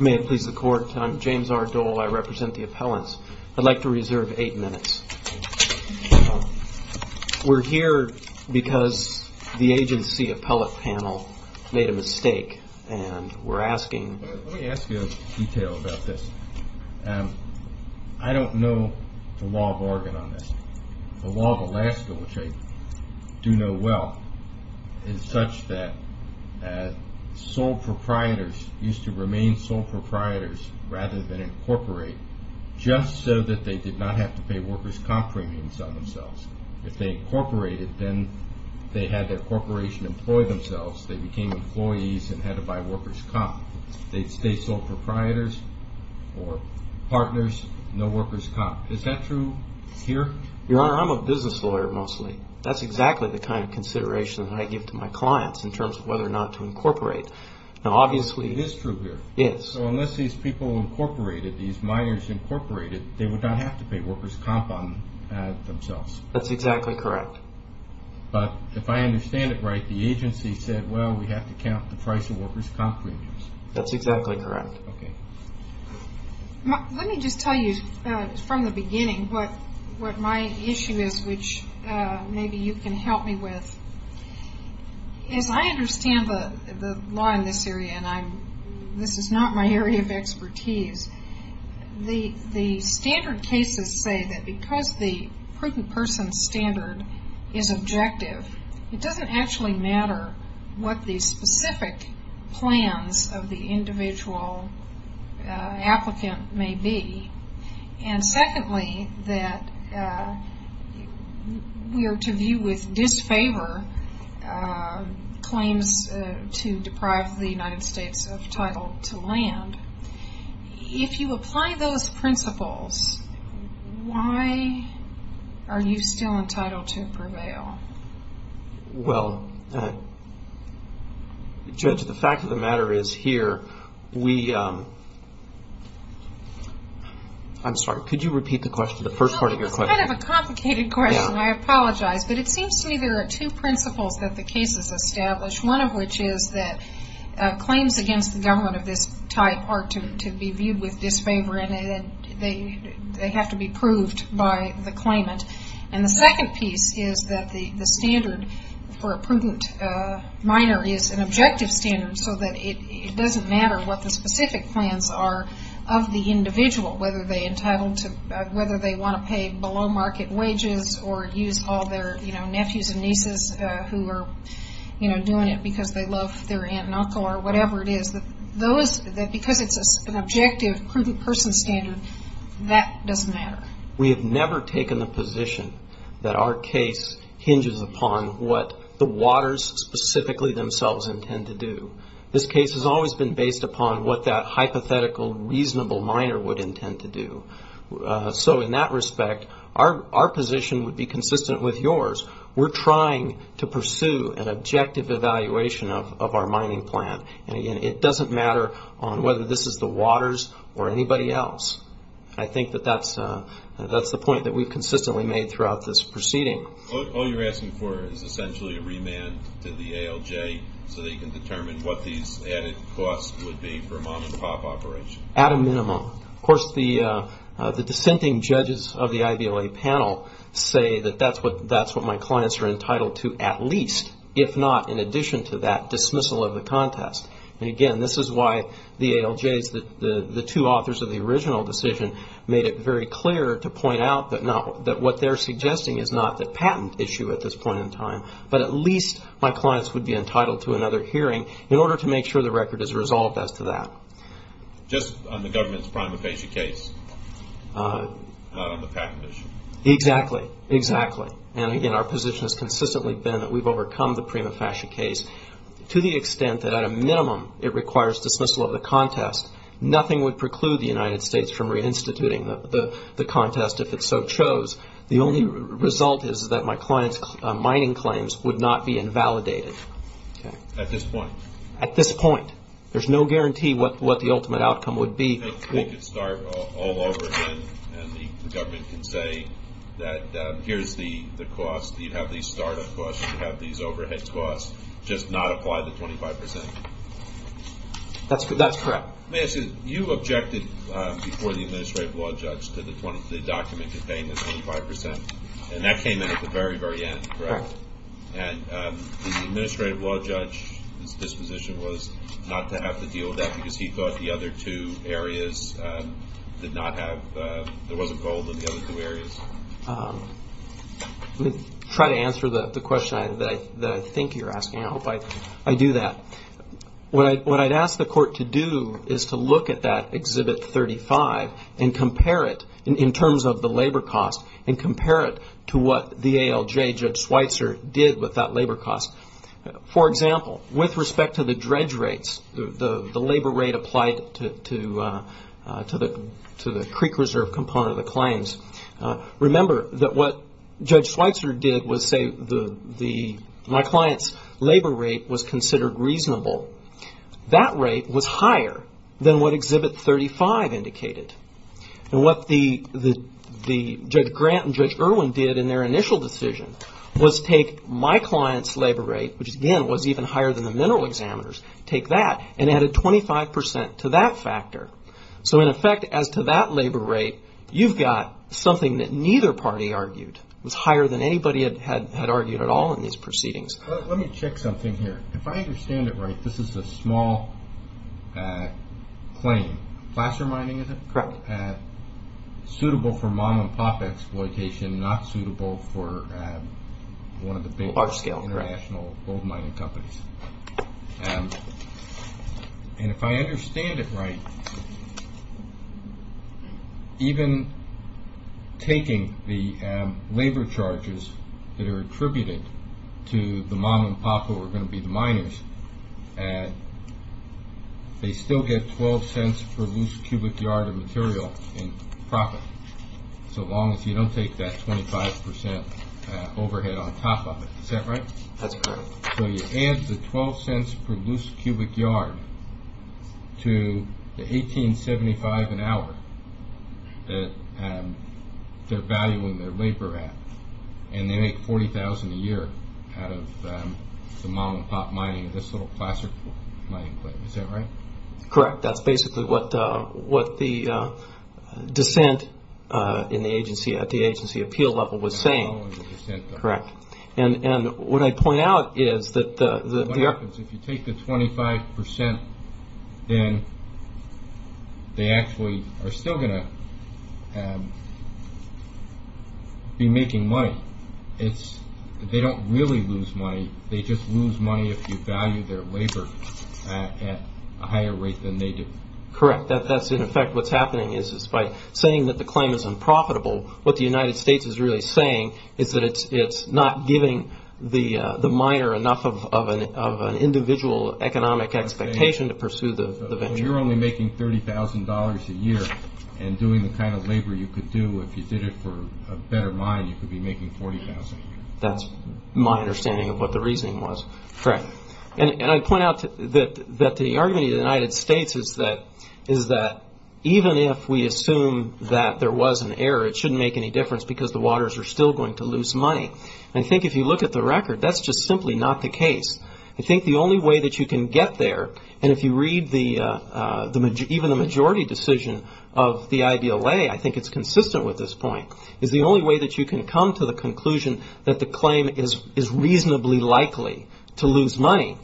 May it please the court. I'm James R. Dole. I represent the appellants. I'd like to reserve eight minutes. We're here because the agency appellate panel made a mistake, and we're asking... sole proprietors used to remain sole proprietors rather than incorporate just so that they did not have to pay workers' comp premiums on themselves. If they incorporated, then they had their corporation employ themselves. They became employees and had to buy workers' comp. They'd stay sole proprietors or partners, no workers' comp. Is that true here? Your Honor, I'm a business lawyer mostly. That's exactly the kind of consideration that I give to my clients in terms of whether or not to incorporate. Now obviously... It is true here. It is. So unless these people incorporated, these minors incorporated, they would not have to pay workers' comp on themselves. That's exactly correct. But if I understand it right, the agency said, well, we have to count the price of workers' comp premiums. That's exactly correct. Okay. Let me just tell you from the beginning what my issue is, which maybe you can help me with. As I understand the law in this area, and this is not my area of expertise, the standard cases say that because the prudent person standard is objective, it doesn't actually matter what the specific plans of the individual applicant may be. And secondly, that we are to view with disfavor claims to deprive the United States of title to land. If you apply those principles, why are you still entitled to prevail? Well, Judge, the fact of the matter is here, we... I'm sorry. Could you repeat the question, the first part of your question? It's kind of a complicated question. I apologize. But it seems to me there are two principles that the cases establish, one of which is that claims against the government of this type are to be viewed with disfavor, and they have to be proved by the claimant. And the second piece is that the standard for a prudent minor is an objective standard, so that it doesn't matter what the specific plans are of the individual, whether they want to pay below-market wages or use all their nephews and nieces who are doing it because they love their aunt and uncle or whatever it is. Because it's an objective, prudent person standard, that doesn't matter. We have never taken the position that our case hinges upon what the waters specifically themselves intend to do. This case has always been based upon what that hypothetical, reasonable minor would intend to do. So in that respect, our position would be consistent with yours. We're trying to pursue an objective evaluation of our mining plan. And, again, it doesn't matter whether this is the waters or anybody else. I think that that's the point that we've consistently made throughout this proceeding. All you're asking for is essentially a remand to the ALJ so that you can determine what these added costs would be for a mom-and-pop operation. At a minimum. Of course, the dissenting judges of the IVLA panel say that that's what my clients are entitled to at least, if not in addition to that, dismissal of the contest. And, again, this is why the ALJs, the two authors of the original decision, made it very clear to point out that what they're suggesting is not the patent issue at this point in time, but at least my clients would be entitled to another hearing in order to make sure the record is resolved as to that. Just on the government's prima facie case, not on the patent issue. Exactly. Exactly. And, again, our position has consistently been that we've overcome the prima facie case to the extent that at a minimum it requires dismissal of the contest. Nothing would preclude the United States from reinstituting the contest if it so chose. The only result is that my client's mining claims would not be invalidated. At this point. At this point. There's no guarantee what the ultimate outcome would be. They could start all over again, and the government can say that here's the cost. You'd have these start-up costs. You'd have these overhead costs. Just not apply the 25 percent. That's correct. May I say, you objected before the administrative law judge to the document containing the 25 percent, and that came in at the very, very end, correct? And the administrative law judge's disposition was not to have to deal with that because he thought the other two areas did not have, there wasn't gold in the other two areas. Let me try to answer the question that I think you're asking. I hope I do that. What I'd ask the court to do is to look at that Exhibit 35 and compare it in terms of the labor cost and compare it to what the ALJ, Judge Schweitzer, did with that labor cost. For example, with respect to the dredge rates, the labor rate applied to the creek reserve component of the claims, remember that what Judge Schweitzer did was say my client's labor rate was considered reasonable. That rate was higher than what Exhibit 35 indicated. And what Judge Grant and Judge Irwin did in their initial decision was take my client's labor rate, which again was even higher than the mineral examiners, take that and add a 25 percent to that factor. So in effect, as to that labor rate, you've got something that neither party argued. It was higher than anybody had argued at all in these proceedings. Let me check something here. If I understand it right, this is a small claim. Placer mining is it? Correct. Suitable for mom-and-pop exploitation, not suitable for one of the big international gold mining companies. And if I understand it right, even taking the labor charges that are attributed to the mom-and-pop, who are going to be the miners, they still get 12 cents per loose cubic yard of material in profit, so long as you don't take that 25 percent overhead on top of it. Is that right? That's correct. So you add the 12 cents per loose cubic yard to the $18.75 an hour that they're valuing their labor at, and they make $40,000 a year out of the mom-and-pop mining of this little Placer mining plant. Is that right? Correct. That's basically what the dissent at the agency appeal level was saying. Correct. What I point out is that the… What happens if you take the 25 percent, then they actually are still going to be making money. They don't really lose money. They just lose money if you value their labor at a higher rate than they do. Correct. In effect, what's happening is by saying that the claim is unprofitable, what the United States is really saying is that it's not giving the miner enough of an individual economic expectation to pursue the venture. So you're only making $30,000 a year and doing the kind of labor you could do if you did it for a better mine, you could be making $40,000 a year. That's my understanding of what the reasoning was. Correct. And I point out that the argument of the United States is that even if we assume that there was an error, it shouldn't make any difference because the waters are still going to lose money. And I think if you look at the record, that's just simply not the case. I think the only way that you can get there, and if you read even the majority decision of the IDLA, I think it's consistent with this point, is the only way that you can come to the conclusion that the claim is reasonably likely to lose money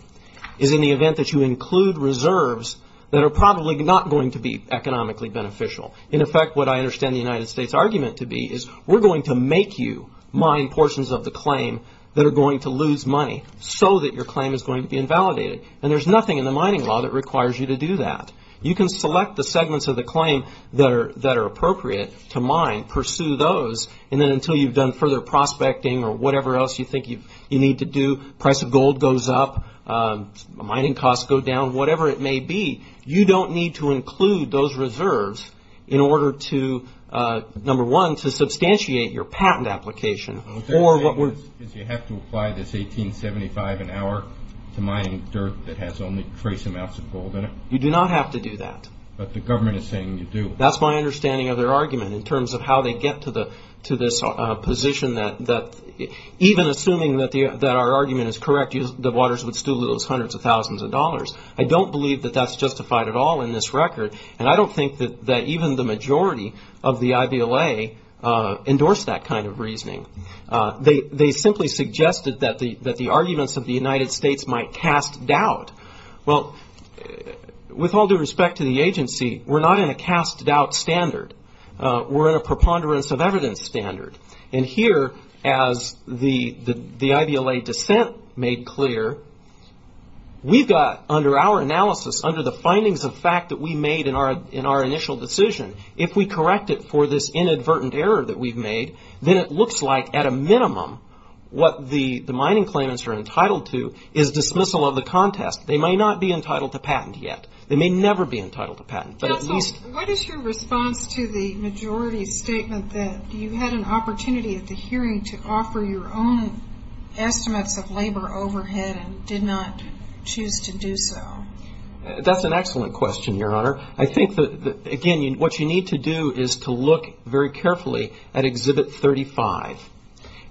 is in the event that you include reserves that are probably not going to be economically beneficial. In effect, what I understand the United States argument to be is we're going to make you mine portions of the claim that are going to lose money so that your claim is going to be invalidated. And there's nothing in the mining law that requires you to do that. You can select the segments of the claim that are appropriate to mine, pursue those, and then until you've done further prospecting or whatever else you think you need to do, price of gold goes up, mining costs go down, whatever it may be, you don't need to include those reserves in order to, number one, to substantiate your patent application. You have to apply this 1875 an hour to mining dirt that has only trace amounts of gold in it. You do not have to do that. But the government is saying you do. That's my understanding of their argument in terms of how they get to this position that even assuming that our argument is correct, the waters would still lose hundreds of thousands of dollars. I don't believe that that's justified at all in this record, and I don't think that even the majority of the IVLA endorsed that kind of reasoning. They simply suggested that the arguments of the United States might cast doubt. Well, with all due respect to the agency, we're not in a cast doubt standard. We're in a preponderance of evidence standard. And here, as the IVLA dissent made clear, we've got under our analysis, under the findings of fact that we made in our initial decision, if we correct it for this inadvertent error that we've made, then it looks like at a minimum what the mining claimants are entitled to is dismissal of the contest. They may not be entitled to patent yet. They may never be entitled to patent. What is your response to the majority statement that you had an opportunity at the hearing to offer your own estimates of labor overhead and did not choose to do so? That's an excellent question, Your Honor. I think that, again, what you need to do is to look very carefully at Exhibit 35.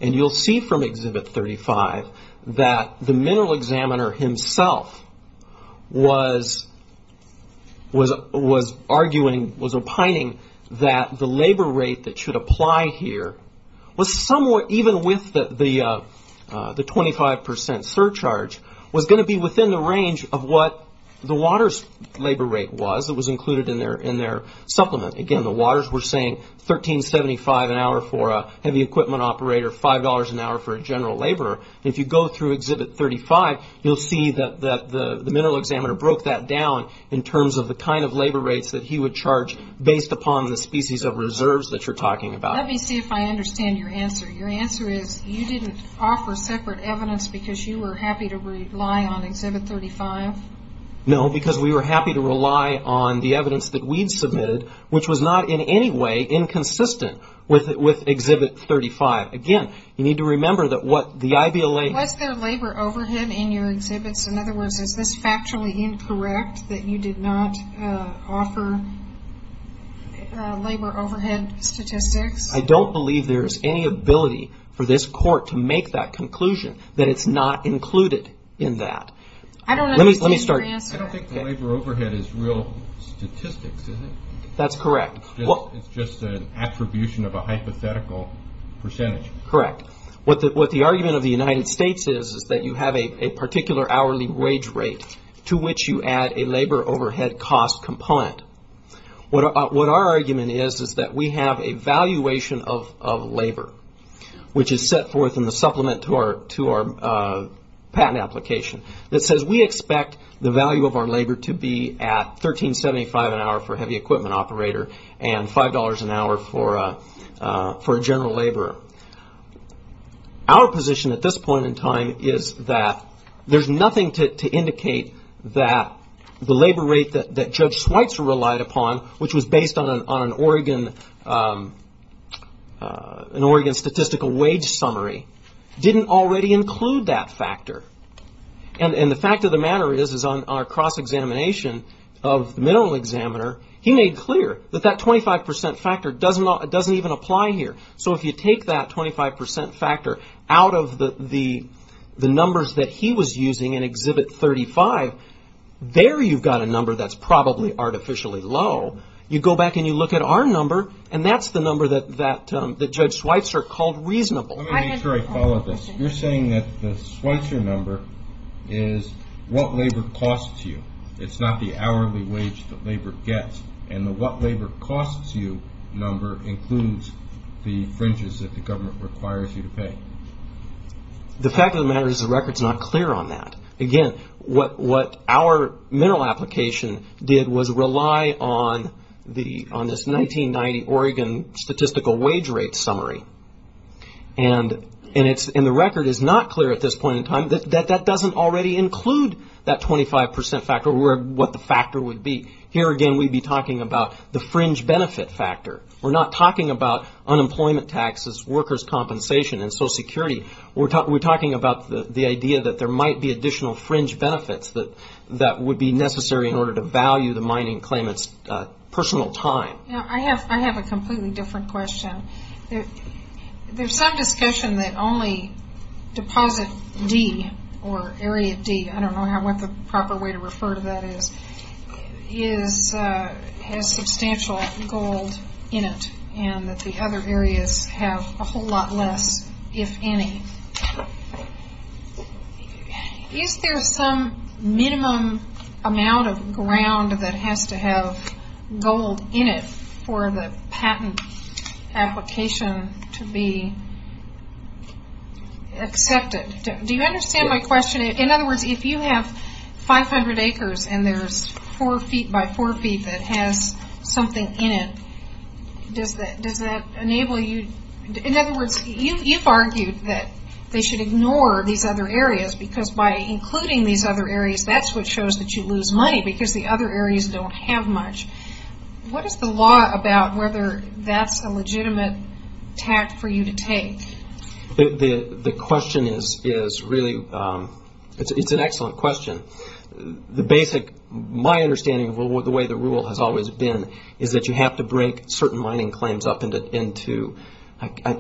And you'll see from Exhibit 35 that the mineral examiner himself was arguing, was opining that the labor rate that should apply here was somewhere, even with the 25% surcharge, was going to be within the range of what the water's labor rate was. It was included in their supplement. Again, the waters were saying $13.75 an hour for a heavy equipment operator, $5 an hour for a general laborer. If you go through Exhibit 35, you'll see that the mineral examiner broke that down in terms of the kind of labor rates that he would charge based upon the species of reserves that you're talking about. Let me see if I understand your answer. Your answer is you didn't offer separate evidence because you were happy to rely on Exhibit 35? No, because we were happy to rely on the evidence that we'd submitted, which was not in any way inconsistent with Exhibit 35. Again, you need to remember that what the IVLA... Was there labor overhead in your exhibits? In other words, is this factually incorrect that you did not offer labor overhead statistics? I don't believe there's any ability for this court to make that conclusion, that it's not included in that. I don't understand your answer. I don't think labor overhead is real statistics, is it? That's correct. It's just an attribution of a hypothetical percentage. Correct. What the argument of the United States is is that you have a particular hourly wage rate to which you add a labor overhead cost component. What our argument is is that we have a valuation of labor, which is set forth in the supplement to our patent application. It says we expect the value of our labor to be at $13.75 an hour for a heavy equipment operator and $5 an hour for a general laborer. Our position at this point in time is that there's nothing to indicate that the labor rate that Judge Schweitzer relied upon, which was based on an Oregon statistical wage summary, didn't already include that factor. The fact of the matter is, is on our cross-examination of the mineral examiner, he made clear that that 25% factor doesn't even apply here. If you take that 25% factor out of the numbers that he was using in Exhibit 35, there you've got a number that's probably artificially low. You go back and you look at our number, and that's the number that Judge Schweitzer called reasonable. Let me make sure I follow this. You're saying that the Schweitzer number is what labor costs you. It's not the hourly wage that labor gets, and the what labor costs you number includes the fringes that the government requires you to pay. The fact of the matter is the record's not clear on that. Again, what our mineral application did was rely on this 1990 Oregon statistical wage rate summary, and the record is not clear at this point in time that that doesn't already include that 25% factor or what the factor would be. Here again, we'd be talking about the fringe benefit factor. We're not talking about unemployment taxes, workers' compensation, and Social Security. We're talking about the idea that there might be additional fringe benefits that would be necessary in order to value the mining claimant's personal time. I have a completely different question. There's some discussion that only deposit D or area D, I don't know what the proper way to refer to that is, has substantial gold in it and that the other areas have a whole lot less, if any. Is there some minimum amount of ground that has to have gold in it for the patent application to be accepted? Do you understand my question? In other words, if you have 500 acres and there's 4 feet by 4 feet that has something in it, does that enable you? In other words, you've argued that they should ignore these other areas because by including these other areas, that's what shows that you lose money because the other areas don't have much. What is the law about whether that's a legitimate tact for you to take? The question is really, it's an excellent question. The basic, my understanding of the way the rule has always been is that you have to break certain mining claims up into,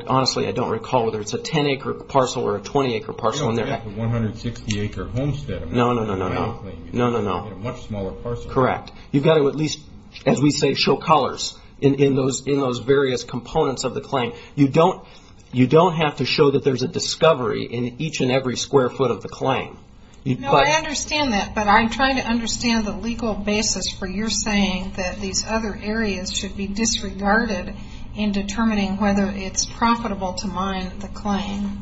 honestly, I don't recall whether it's a 10-acre parcel or a 20-acre parcel. I don't think it's a 160-acre homestead. No, no, no, no, no. It's a much smaller parcel. Correct. You've got to at least, as we say, show colors in those various components of the claim. You don't have to show that there's a discovery in each and every square foot of the claim. No, I understand that, but I'm trying to understand the legal basis for your saying that these other areas should be disregarded in determining whether it's profitable to mine the claim.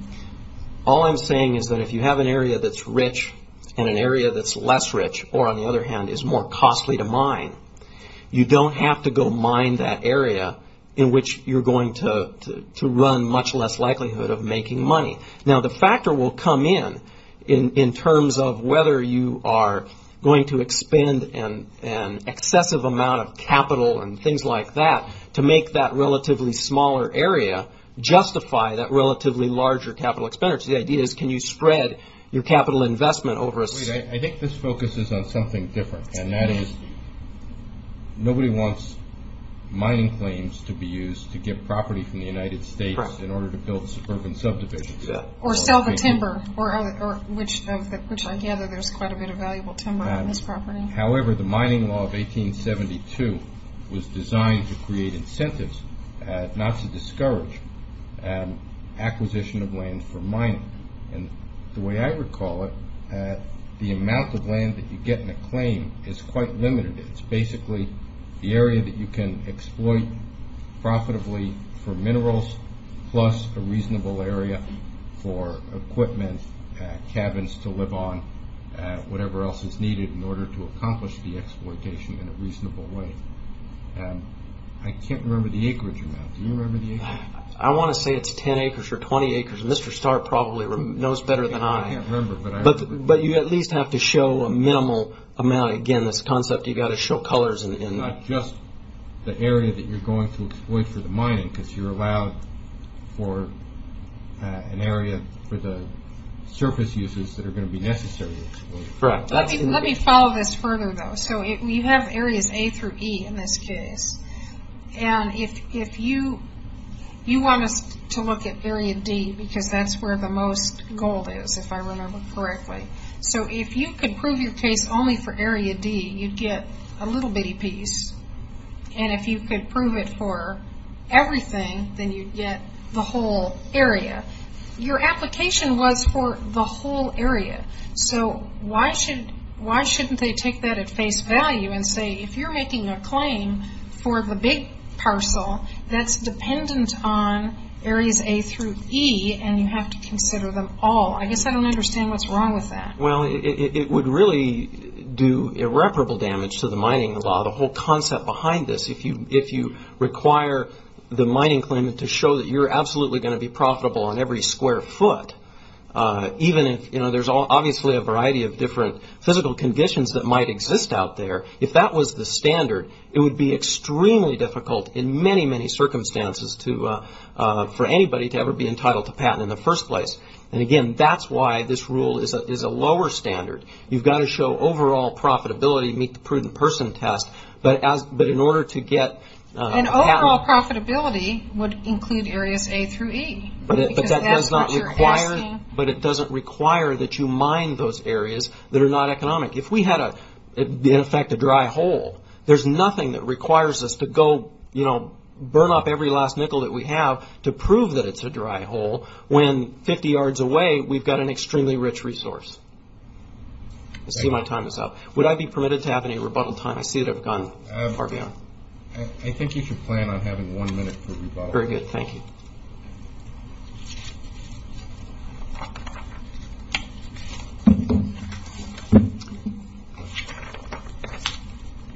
All I'm saying is that if you have an area that's rich and an area that's less rich or, on the other hand, is more costly to mine, you don't have to go mine that area in which you're going to run much less likelihood of making money. Now, the factor will come in in terms of whether you are going to expend an excessive amount of capital and things like that to make that relatively smaller area justify that relatively larger capital expenditure. The idea is can you spread your capital investment over a... I think this focuses on something different, and that is nobody wants mining claims to be used to get property from the United States in order to build suburban subdivisions. Or sell the timber, which I gather there's quite a bit of valuable timber on this property. However, the mining law of 1872 was designed to create incentives not to discourage acquisition of land for mining. The way I recall it, the amount of land that you get in a claim is quite limited. It's basically the area that you can exploit profitably for minerals plus a reasonable area for equipment, cabins to live on, whatever else is needed in order to accomplish the exploitation in a reasonable way. I can't remember the acreage amount. Do you remember the acreage? I want to say it's 10 acres or 20 acres. Mr. Starr probably knows better than I. I can't remember, but I remember. But you at least have to show a minimal amount. Again, this concept you've got to show colors. Not just the area that you're going to exploit for the mining, because you're allowed for an area for the surface uses that are going to be necessary. Correct. Let me follow this further, though. You have areas A through E in this case. You want us to look at area D, because that's where the most gold is, if I remember correctly. If you could prove your case only for area D, you'd get a little bitty piece. If you could prove it for everything, then you'd get the whole area. Your application was for the whole area, so why shouldn't they take that at face value and say, if you're making a claim for the big parcel that's dependent on areas A through E and you have to consider them all? I guess I don't understand what's wrong with that. It would really do irreparable damage to the mining law, the whole concept behind this. If you require the mining claimant to show that you're absolutely going to be profitable on every square foot, even if there's obviously a variety of different physical conditions that might exist out there, if that was the standard, it would be extremely difficult in many, many circumstances for anybody to ever be entitled to patent in the first place. Again, that's why this rule is a lower standard. You've got to show overall profitability to meet the prudent person test, but in order to get patent... And overall profitability would include areas A through E, because that's what you're asking. But it doesn't require that you mine those areas that are not economic. If we had, in effect, a dry hole, there's nothing that requires us to burn up every last nickel that we have to prove that it's a dry hole, when 50 yards away, we've got an extremely rich resource. I see my time is up. Would I be permitted to have any rebuttal time? I see that I've gone far beyond. I think you should plan on having one minute for rebuttal. Very good. Thank you.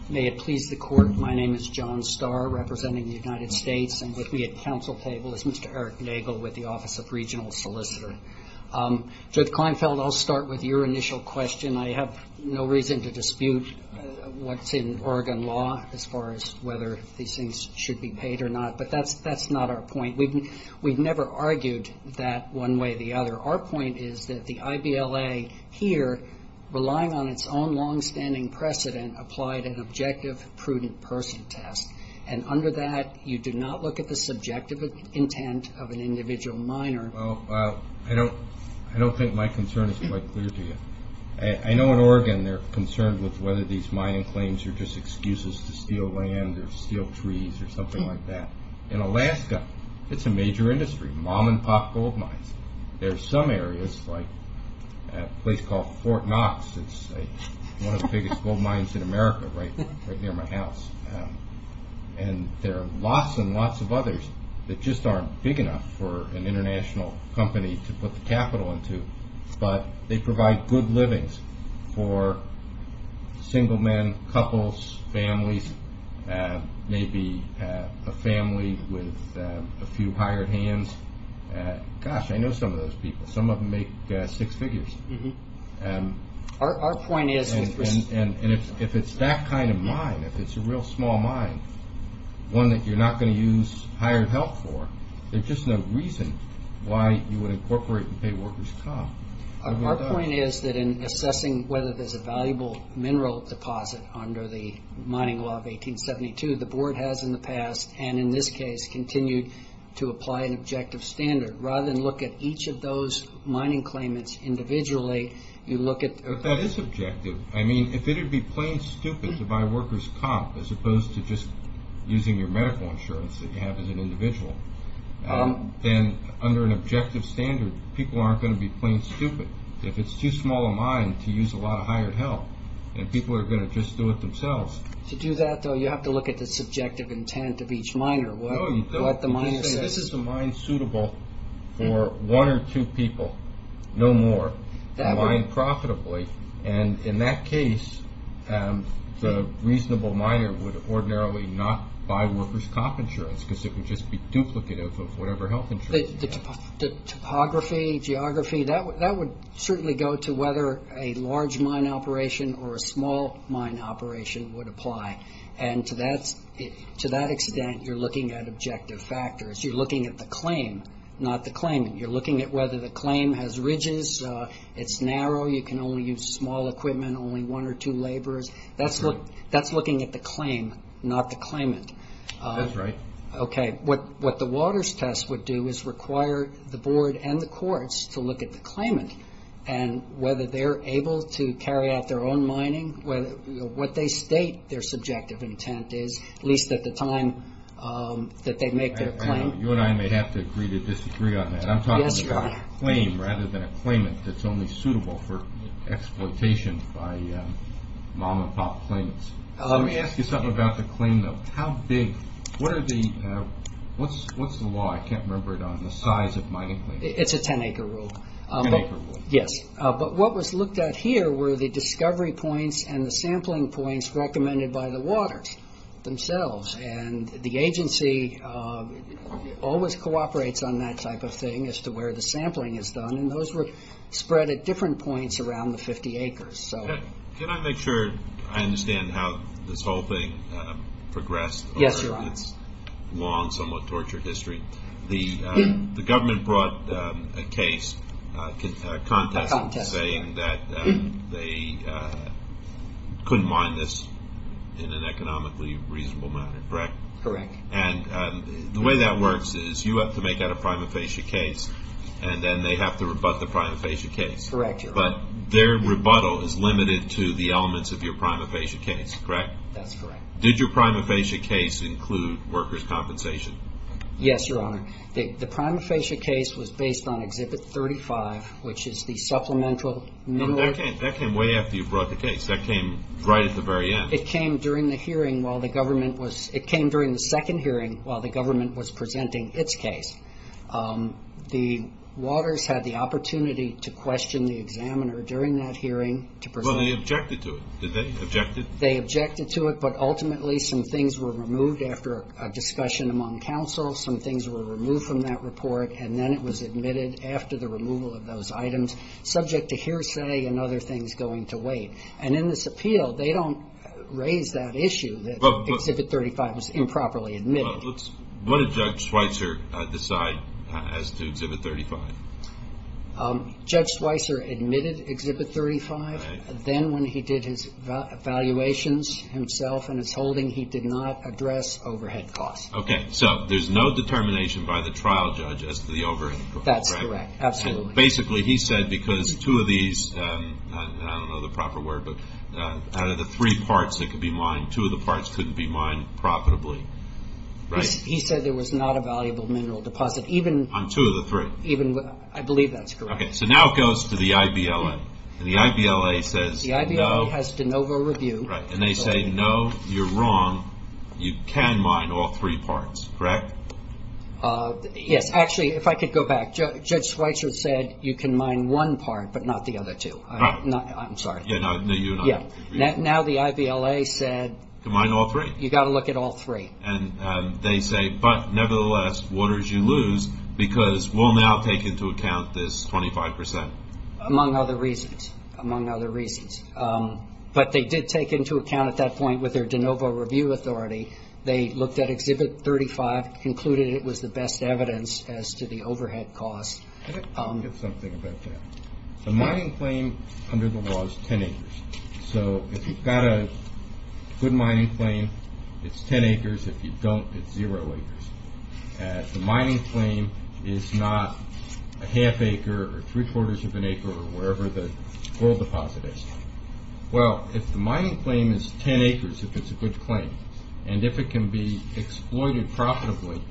May it please the Court, my name is John Starr, representing the United States, and with me at council table is Mr. Eric Nagel with the Office of Regional Solicitor. Judge Kleinfeld, I'll start with your initial question. I have no reason to dispute what's in Oregon law as far as whether these things should be paid or not, but that's not our point. We've never argued that one way or the other. Our point is that the IBLA here, relying on its own longstanding precedent, applied an objective prudent person test, and under that you do not look at the subjective intent of an individual miner. Well, I don't think my concern is quite clear to you. I know in Oregon they're concerned with whether these mining claims are just excuses to steal land or steal trees or something like that. In Alaska, it's a major industry, mom and pop gold mines. There are some areas, like a place called Fort Knox, it's one of the biggest gold mines in America, right near my house. And there are lots and lots of others that just aren't big enough for an international company to put the capital into, but they provide good livings for single men, couples, families, maybe a family with a few hired hands. Gosh, I know some of those people. Some of them make six figures. Our point is if it's that kind of mine, if it's a real small mine, one that you're not going to use hired help for, there's just no reason why you would incorporate and pay workers' costs. Our point is that in assessing whether there's a valuable mineral deposit under the mining law of 1872, the board has in the past, and in this case, continued to apply an objective standard. Rather than look at each of those mining claimants individually, you look at- But that is objective. I mean, if it would be plain stupid to buy workers' comp as opposed to just using your medical insurance that you have as an individual, then under an objective standard, people aren't going to be plain stupid. If it's too small a mine to use a lot of hired help, then people are going to just do it themselves. To do that, though, you have to look at the subjective intent of each miner, what the miner says. This is a mine suitable for one or two people, no more, a mine profitably. In that case, the reasonable miner would ordinarily not buy workers' comp insurance because it would just be duplicative of whatever health insurance you have. Topography, geography, that would certainly go to whether a large mine operation or a small mine operation would apply. To that extent, you're looking at objective factors. You're looking at the claim, not the claimant. You're looking at whether the claim has ridges, it's narrow, you can only use small equipment, only one or two laborers. That's looking at the claim, not the claimant. That's right. What the Waters test would do is require the board and the courts to look at the claimant and whether they're able to carry out their own mining, what they state their subjective intent is, at least at the time that they make their claim. You and I may have to agree to disagree on that. I'm talking about a claim rather than a claimant that's only suitable for exploitation by mom-and-pop claimants. Let me ask you something about the claim, though. What's the law? I can't remember it on the size of mining claims. It's a 10-acre rule. 10-acre rule. Yes. What was looked at here were the discovery points and the sampling points recommended by the Waters themselves. The agency always cooperates on that type of thing as to where the sampling is done. Those were spread at different points around the 50 acres. Can I make sure I understand how this whole thing progressed over its long, somewhat tortured history? Yes, Your Honor. The government brought a case, a contest, saying that they couldn't mine this in an economically reasonable manner, correct? Correct. And the way that works is you have to make out a prima facie case, and then they have to rebut the prima facie case. Correct, Your Honor. But their rebuttal is limited to the elements of your prima facie case, correct? That's correct. Did your prima facie case include workers' compensation? Yes, Your Honor. The prima facie case was based on Exhibit 35, which is the supplemental minimum. That came way after you brought the case. That came right at the very end. It came during the hearing while the government was – it came during the second hearing while the government was presenting its case. The Waters had the opportunity to question the examiner during that hearing to present – Well, they objected to it. Did they object it? They objected to it, but ultimately some things were removed after a discussion among counsel. Some things were removed from that report, and then it was admitted after the removal of those items, subject to hearsay and other things going to weight. And in this appeal, they don't raise that issue that Exhibit 35 was improperly admitted. What did Judge Schweitzer decide as to Exhibit 35? Judge Schweitzer admitted Exhibit 35. Then when he did his valuations himself and his holding, he did not address overhead costs. Okay. So there's no determination by the trial judge as to the overhead, correct? That's correct. Absolutely. So basically he said because two of these – I don't know the proper word, but out of the three parts that could be mined, two of the parts couldn't be mined profitably, right? He said there was not a valuable mineral deposit, even – On two of the three. Even – I believe that's correct. Okay. So now it goes to the IBLA, and the IBLA says no – The IBLA has de novo review. Right. And they say, no, you're wrong. You can mine all three parts, correct? Yes. Actually, if I could go back. Judge Schweitzer said you can mine one part, but not the other two. Right. I'm sorry. No, you're not. Yeah. Now the IBLA said – You can mine all three? You've got to look at all three. And they say, but nevertheless, what did you lose? Because we'll now take into account this 25 percent. Among other reasons. Among other reasons. But they did take into account at that point with their de novo review authority, they looked at Exhibit 35, concluded it was the best evidence as to the overhead costs. Let me get something about that. The mining claim under the law is 10 acres. So if you've got a good mining claim, it's 10 acres. If you don't, it's zero acres. The mining claim is not a half acre or three-quarters of an acre or wherever the oil deposit is. Well, if the mining claim is 10 acres, if it's a good claim, and if it can be exploited profitably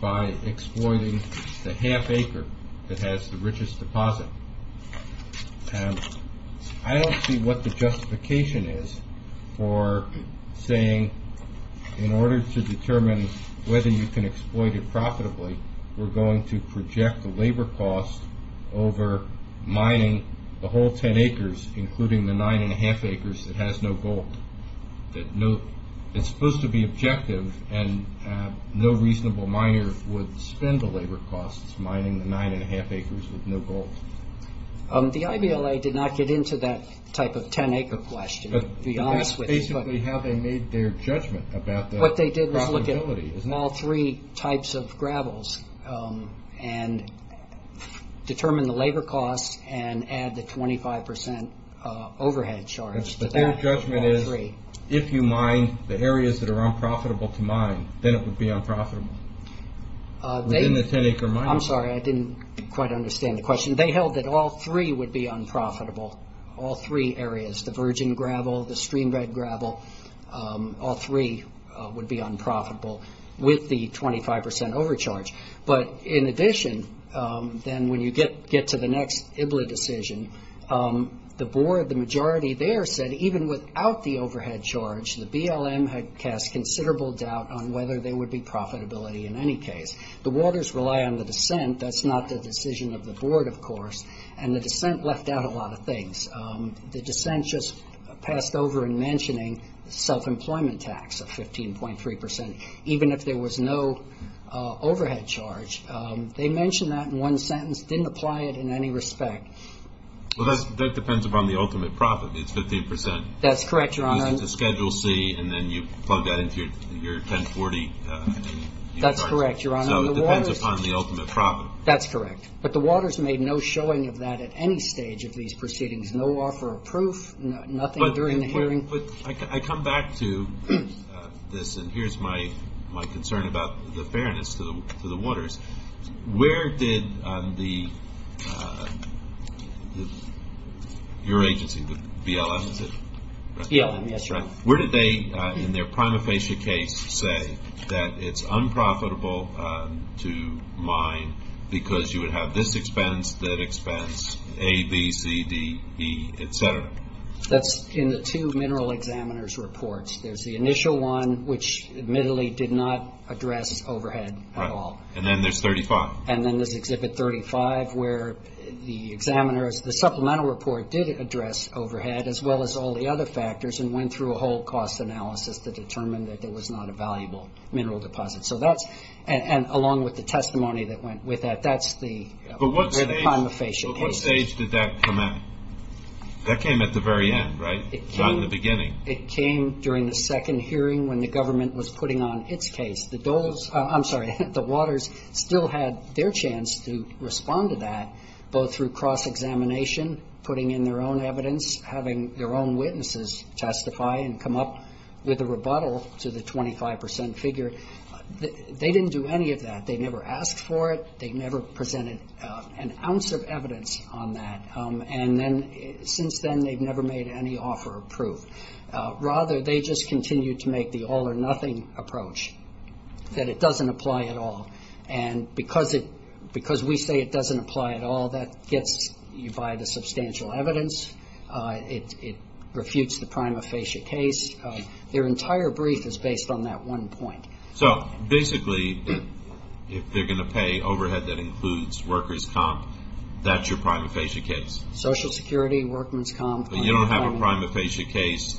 by exploiting the half acre that has the richest deposit, I don't see what the justification is for saying in order to determine whether you can exploit it profitably, we're going to project the labor costs over mining the whole 10 acres, including the nine-and-a-half acres that has no gold. It's supposed to be objective, and no reasonable miner would spend the labor costs mining the nine-and-a-half acres with no gold. The IBLA did not get into that type of 10-acre question, to be honest with you. That's basically how they made their judgment about the profitability. All three types of gravels, and determine the labor costs, and add the 25% overhead charge to that. Their judgment is, if you mine the areas that are unprofitable to mine, then it would be unprofitable. Within the 10-acre mine. I'm sorry, I didn't quite understand the question. They held that all three would be unprofitable, all three areas. The virgin gravel, the streambed gravel, all three would be unprofitable. With the 25% overcharge. In addition, when you get to the next IBLA decision, the board, the majority there said, even without the overhead charge, the BLM had cast considerable doubt on whether there would be profitability in any case. The waters rely on the descent, that's not the decision of the board, of course. The descent left out a lot of things. The descent just passed over in mentioning self-employment tax of 15.3%, even if there was no overhead charge. They mentioned that in one sentence, didn't apply it in any respect. Well, that depends upon the ultimate profit, it's 15%. That's correct, Your Honor. It's a Schedule C, and then you plug that into your 1040. That's correct, Your Honor. So it depends upon the ultimate profit. That's correct, but the waters made no showing of that at any stage of these proceedings. No offer of proof, nothing during the hearing. I come back to this, and here's my concern about the fairness to the waters. Where did your agency, the BLM, is it? BLM, yes, Your Honor. Where did they, in their prima facie case, say that it's unprofitable to mine because you would have this expense, that expense, A, B, C, D, E, et cetera? That's in the two mineral examiner's reports. There's the initial one, which admittedly did not address overhead at all. And then there's 35. And then there's Exhibit 35, where the examiners, the supplemental report did address overhead, as well as all the other factors and went through a whole cost analysis to determine that there was not a valuable mineral deposit. And along with the testimony that went with that, that's the prima facie cases. But what stage did that come at? That came at the very end, right? Not in the beginning. It came during the second hearing when the government was putting on its case. I'm sorry, the waters still had their chance to respond to that, both through cross-examination, putting in their own evidence, having their own witnesses testify and come up with a rebuttal to the 25 percent figure. They didn't do any of that. They never asked for it. They never presented an ounce of evidence on that. And since then, they've never made any offer of proof. Rather, they just continued to make the all-or-nothing approach, that it doesn't apply at all. And because we say it doesn't apply at all, that gets you by the substantial evidence. It refutes the prima facie case. Their entire brief is based on that one point. So basically, if they're going to pay overhead that includes workers' comp, that's your prima facie case? Social Security, workman's comp. But you don't have a prima facie case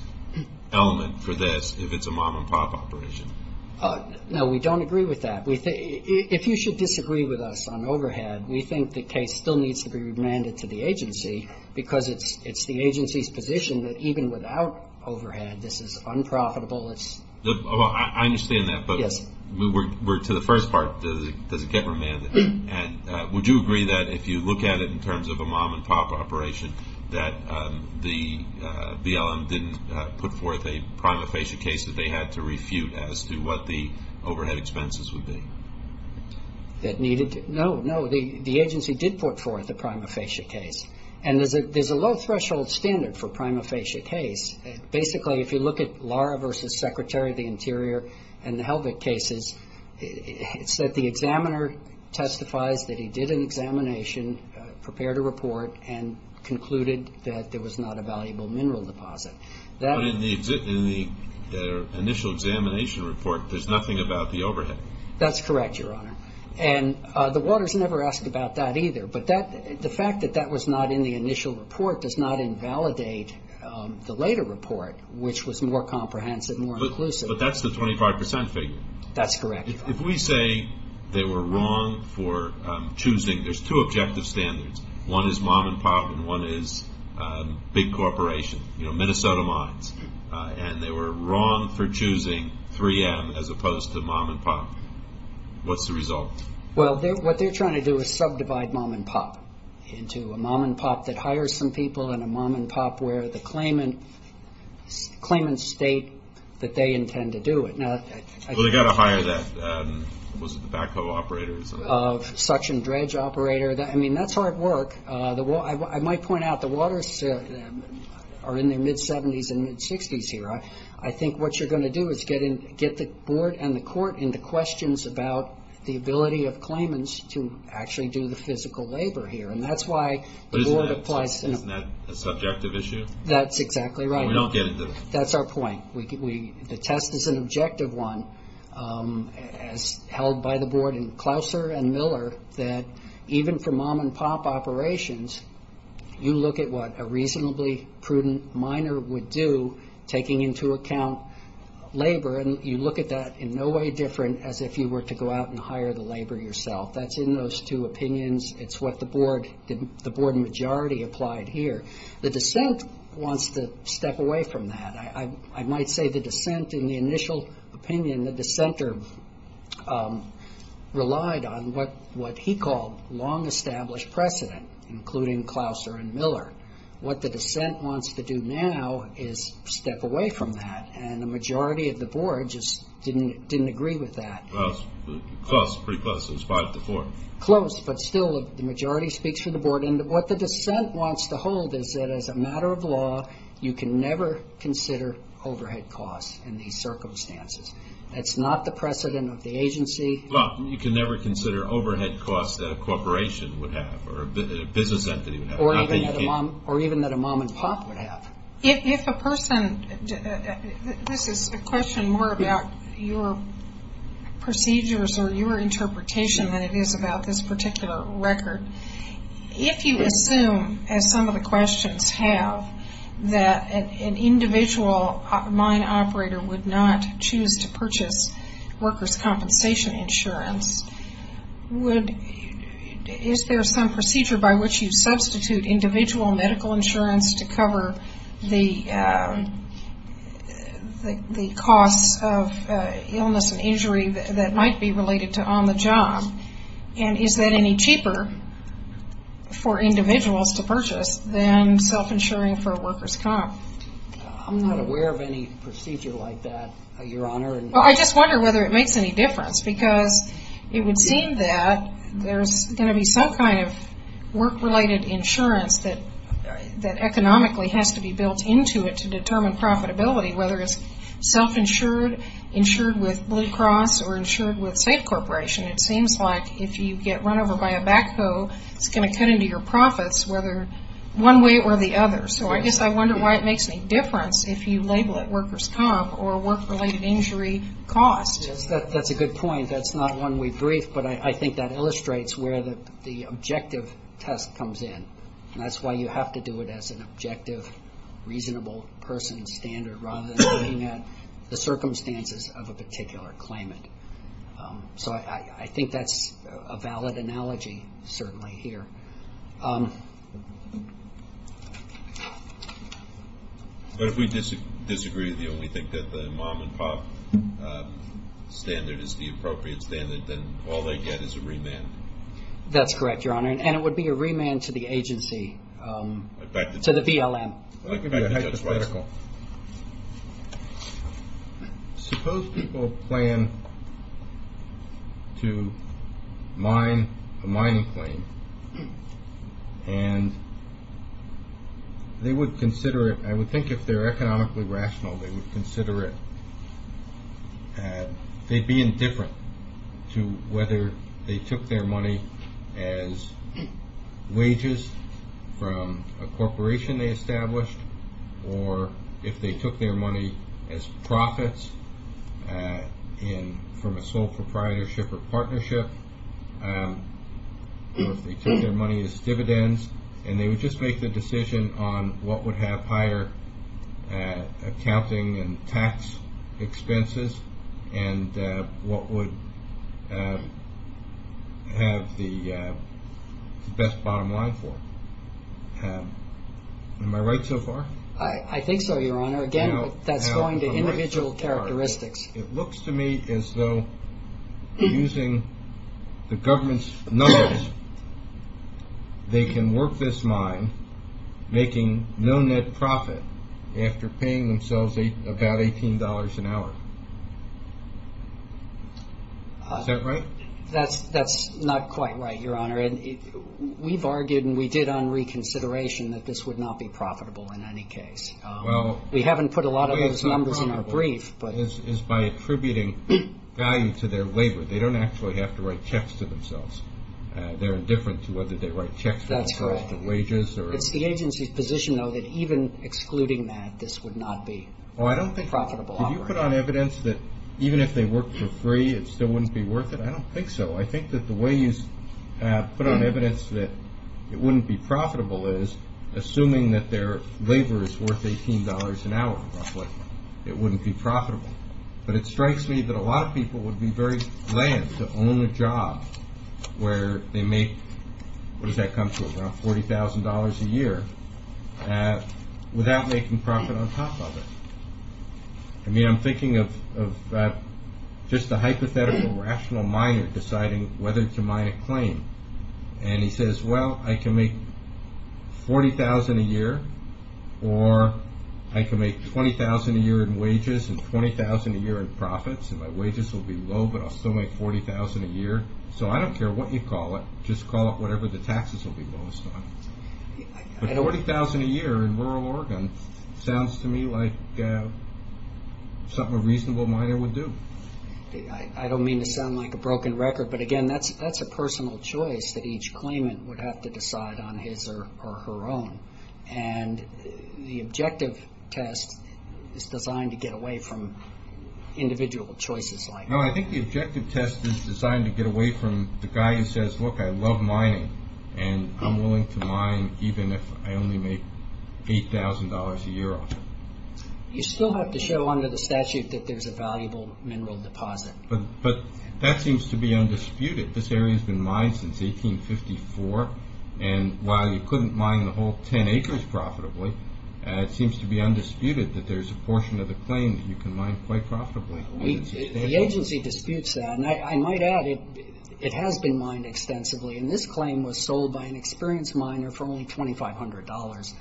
element for this if it's a mom-and-pop operation? No, we don't agree with that. If you should disagree with us on overhead, we think the case still needs to be remanded to the agency because it's the agency's position that even without overhead, this is unprofitable. I understand that, but to the first part, does it get remanded? And would you agree that if you look at it in terms of a mom-and-pop operation, that the BLM didn't put forth a prima facie case that they had to refute as to what the overhead expenses would be? That needed to? No, no, the agency did put forth a prima facie case. And there's a low-threshold standard for prima facie case. Basically, if you look at Laura v. Secretary of the Interior and the Helvick cases, it's that the examiner testifies that he did an examination, prepared a report, and concluded that there was not a valuable mineral deposit. But in the initial examination report, there's nothing about the overhead. That's correct, Your Honor. And the Waters never asked about that either. But the fact that that was not in the initial report does not invalidate the later report, which was more comprehensive and more inclusive. But that's the 25 percent figure. That's correct, Your Honor. If we say they were wrong for choosing – there's two objective standards. One is mom-and-pop and one is big corporations, you know, Minnesota mines. And they were wrong for choosing 3M as opposed to mom-and-pop. What's the result? Well, what they're trying to do is subdivide mom-and-pop into a mom-and-pop that hires some people and a mom-and-pop where the claimants state that they intend to do it. Well, they've got to hire that. Was it the backhoe operators? Suction dredge operator. I mean, that's hard work. I might point out the Waters are in their mid-70s and mid-60s here. I think what you're going to do is get the board and the court into questions about the ability of claimants to actually do the physical labor here. And that's why the board applies to them. But isn't that a subjective issue? That's exactly right. We don't get into it. That's our point. The test is an objective one, as held by the board in Clauser and Miller, that even for mom-and-pop operations, you look at what a reasonably prudent miner would do, taking into account labor, and you look at that in no way different as if you were to go out and hire the labor yourself. That's in those two opinions. It's what the board majority applied here. The dissent wants to step away from that. I might say the dissent in the initial opinion, the dissenter relied on what he called long-established precedent, including Clauser and Miller. What the dissent wants to do now is step away from that, and the majority of the board just didn't agree with that. Close, pretty close. It was five to four. Close, but still the majority speaks for the board. What the dissent wants to hold is that as a matter of law, you can never consider overhead costs in these circumstances. That's not the precedent of the agency. Well, you can never consider overhead costs that a corporation would have or a business entity would have. Or even that a mom-and-pop would have. If a person, this is a question more about your procedures or your interpretation than it is about this particular record. If you assume, as some of the questions have, that an individual mine operator would not choose to purchase workers' compensation insurance, is there some procedure by which you substitute individual medical insurance to cover the costs of illness and injury that might be related to on the job? And is that any cheaper for individuals to purchase than self-insuring for a workers' comp? I'm not aware of any procedure like that, Your Honor. Well, I just wonder whether it makes any difference, because it would seem that there's going to be some kind of work-related insurance that economically has to be built into it to determine profitability, whether it's self-insured, insured with Blue Cross, or insured with SAFE Corporation. It seems like if you get run over by a backhoe, it's going to cut into your profits whether one way or the other. So I guess I wonder why it makes any difference if you label it workers' comp or work-related injury cost. That's a good point. That's not one we've briefed, but I think that illustrates where the objective test comes in. And that's why you have to do it as an objective, reasonable person standard rather than looking at the circumstances of a particular claimant. So I think that's a valid analogy, certainly, here. But if we disagree with you and we think that the mom-and-pop standard is the appropriate standard, then all they get is a remand. That's correct, Your Honor, and it would be a remand to the agency, to the VLM. I'd like to give you a hypothetical. Suppose people plan to mine a mining claim, and they would consider it, I would think if they're economically rational, they would consider it, they'd be indifferent to whether they took their money as wages from a corporation they established, or if they took their money as profits from a sole proprietorship or partnership, or if they took their money as dividends, and they would just make the decision on what would have higher accounting and tax expenses and what would have the best bottom line for them. Am I right so far? I think so, Your Honor. Again, that's going to individual characteristics. It looks to me as though using the government's numbers, they can work this mine making no net profit after paying themselves about $18 an hour. Is that right? That's not quite right, Your Honor. We've argued and we did on reconsideration that this would not be profitable in any case. We haven't put a lot of those numbers in our brief. It's by attributing value to their labor. They don't actually have to write checks to themselves. They're indifferent to whether they write checks for themselves or wages. That's correct. It's the agency's position, though, that even excluding that, this would not be a profitable operation. I don't think you put on evidence that even if they worked for free, it still wouldn't be worth it. I don't think so. I think that the way you put on evidence that it wouldn't be profitable is assuming that their labor is worth $18 an hour roughly. It wouldn't be profitable. But it strikes me that a lot of people would be very glad to own a job where they make, what does that come to, around $40,000 a year, without making profit on top of it. I mean, I'm thinking of just a hypothetical rational miner deciding whether to mine a claim. And he says, well, I can make $40,000 a year or I can make $20,000 a year in wages and $20,000 a year in profits and my wages will be low but I'll still make $40,000 a year. So I don't care what you call it. Just call it whatever the taxes will be lowest on. But $40,000 a year in rural Oregon sounds to me like something a reasonable miner would do. I don't mean to sound like a broken record, but, again, that's a personal choice that each claimant would have to decide on his or her own. And the objective test is designed to get away from individual choices like that. No, I think the objective test is designed to get away from the guy who says, look, I love mining and I'm willing to mine even if I only make $8,000 a year off it. You still have to show under the statute that there's a valuable mineral deposit. But that seems to be undisputed. This area has been mined since 1854. And while you couldn't mine the whole 10 acres profitably, it seems to be undisputed that there's a portion of the claim that you can mine quite profitably. The agency disputes that. And I might add it has been mined extensively. And this claim was sold by an experienced miner for only $2,500.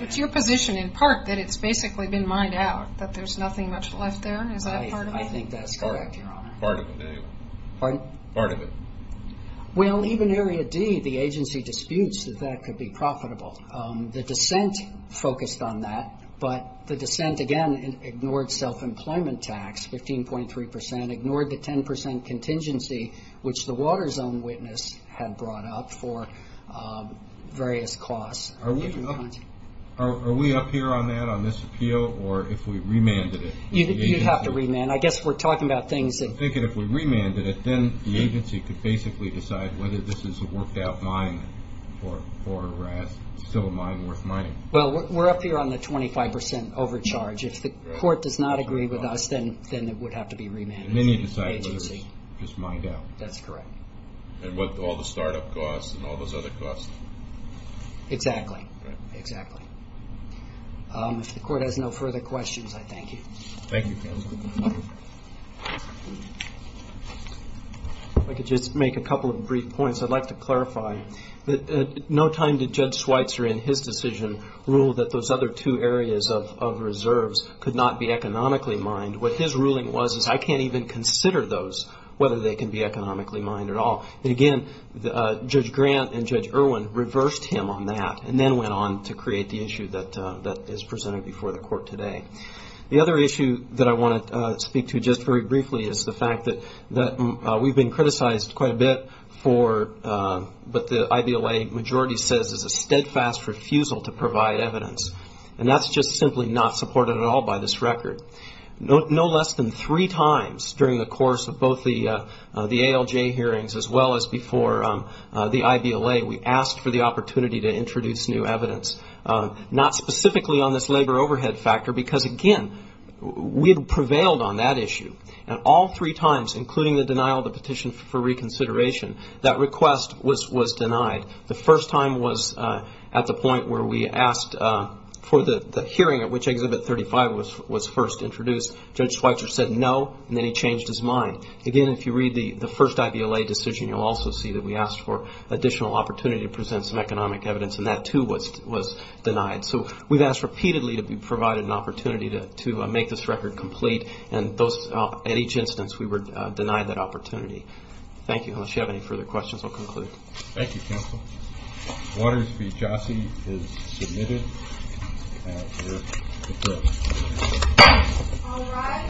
It's your position in part that it's basically been mined out, that there's nothing much left there. Is that part of it? I think that's correct, Your Honor. Part of it, anyway. Pardon? Part of it. Well, even Area D, the agency disputes that that could be profitable. The dissent focused on that. But the dissent, again, ignored self-employment tax, 15.3%, ignored the 10% contingency which the water zone witness had brought up for various costs. Are we up here on that, on this appeal, or if we remanded it? You'd have to remand. Remand. I guess we're talking about things that I'm thinking if we remanded it, then the agency could basically decide whether this is a worked-out mine or still a mine worth mining. Well, we're up here on the 25% overcharge. If the court does not agree with us, then it would have to be remanded. Then you decide whether it's just mined out. That's correct. And with all the startup costs and all those other costs. Exactly. Exactly. If the court has no further questions, I thank you. Thank you, counsel. If I could just make a couple of brief points. I'd like to clarify that no time did Judge Schweitzer, in his decision, rule that those other two areas of reserves could not be economically mined. What his ruling was is I can't even consider those, whether they can be economically mined at all. Again, Judge Grant and Judge Irwin reversed him on that and then went on to create the issue that is presented before the court today. The other issue that I want to speak to just very briefly is the fact that we've been criticized quite a bit for what the IBLA majority says is a steadfast refusal to provide evidence. And that's just simply not supported at all by this record. No less than three times during the course of both the ALJ hearings as well as before the IBLA, we asked for the opportunity to introduce new evidence. Not specifically on this labor overhead factor because, again, we had prevailed on that issue. And all three times, including the denial of the petition for reconsideration, that request was denied. The first time was at the point where we asked for the hearing at which Exhibit 35 was first introduced. Judge Schweitzer said no, and then he changed his mind. Again, if you read the first IBLA decision, you'll also see that we asked for additional opportunity to present some economic evidence, and that, too, was denied. So we've asked repeatedly to be provided an opportunity to make this record complete, and at each instance we were denied that opportunity. Thank you. Unless you have any further questions, I'll conclude. Thank you, counsel. Waters v. Jassy is submitted.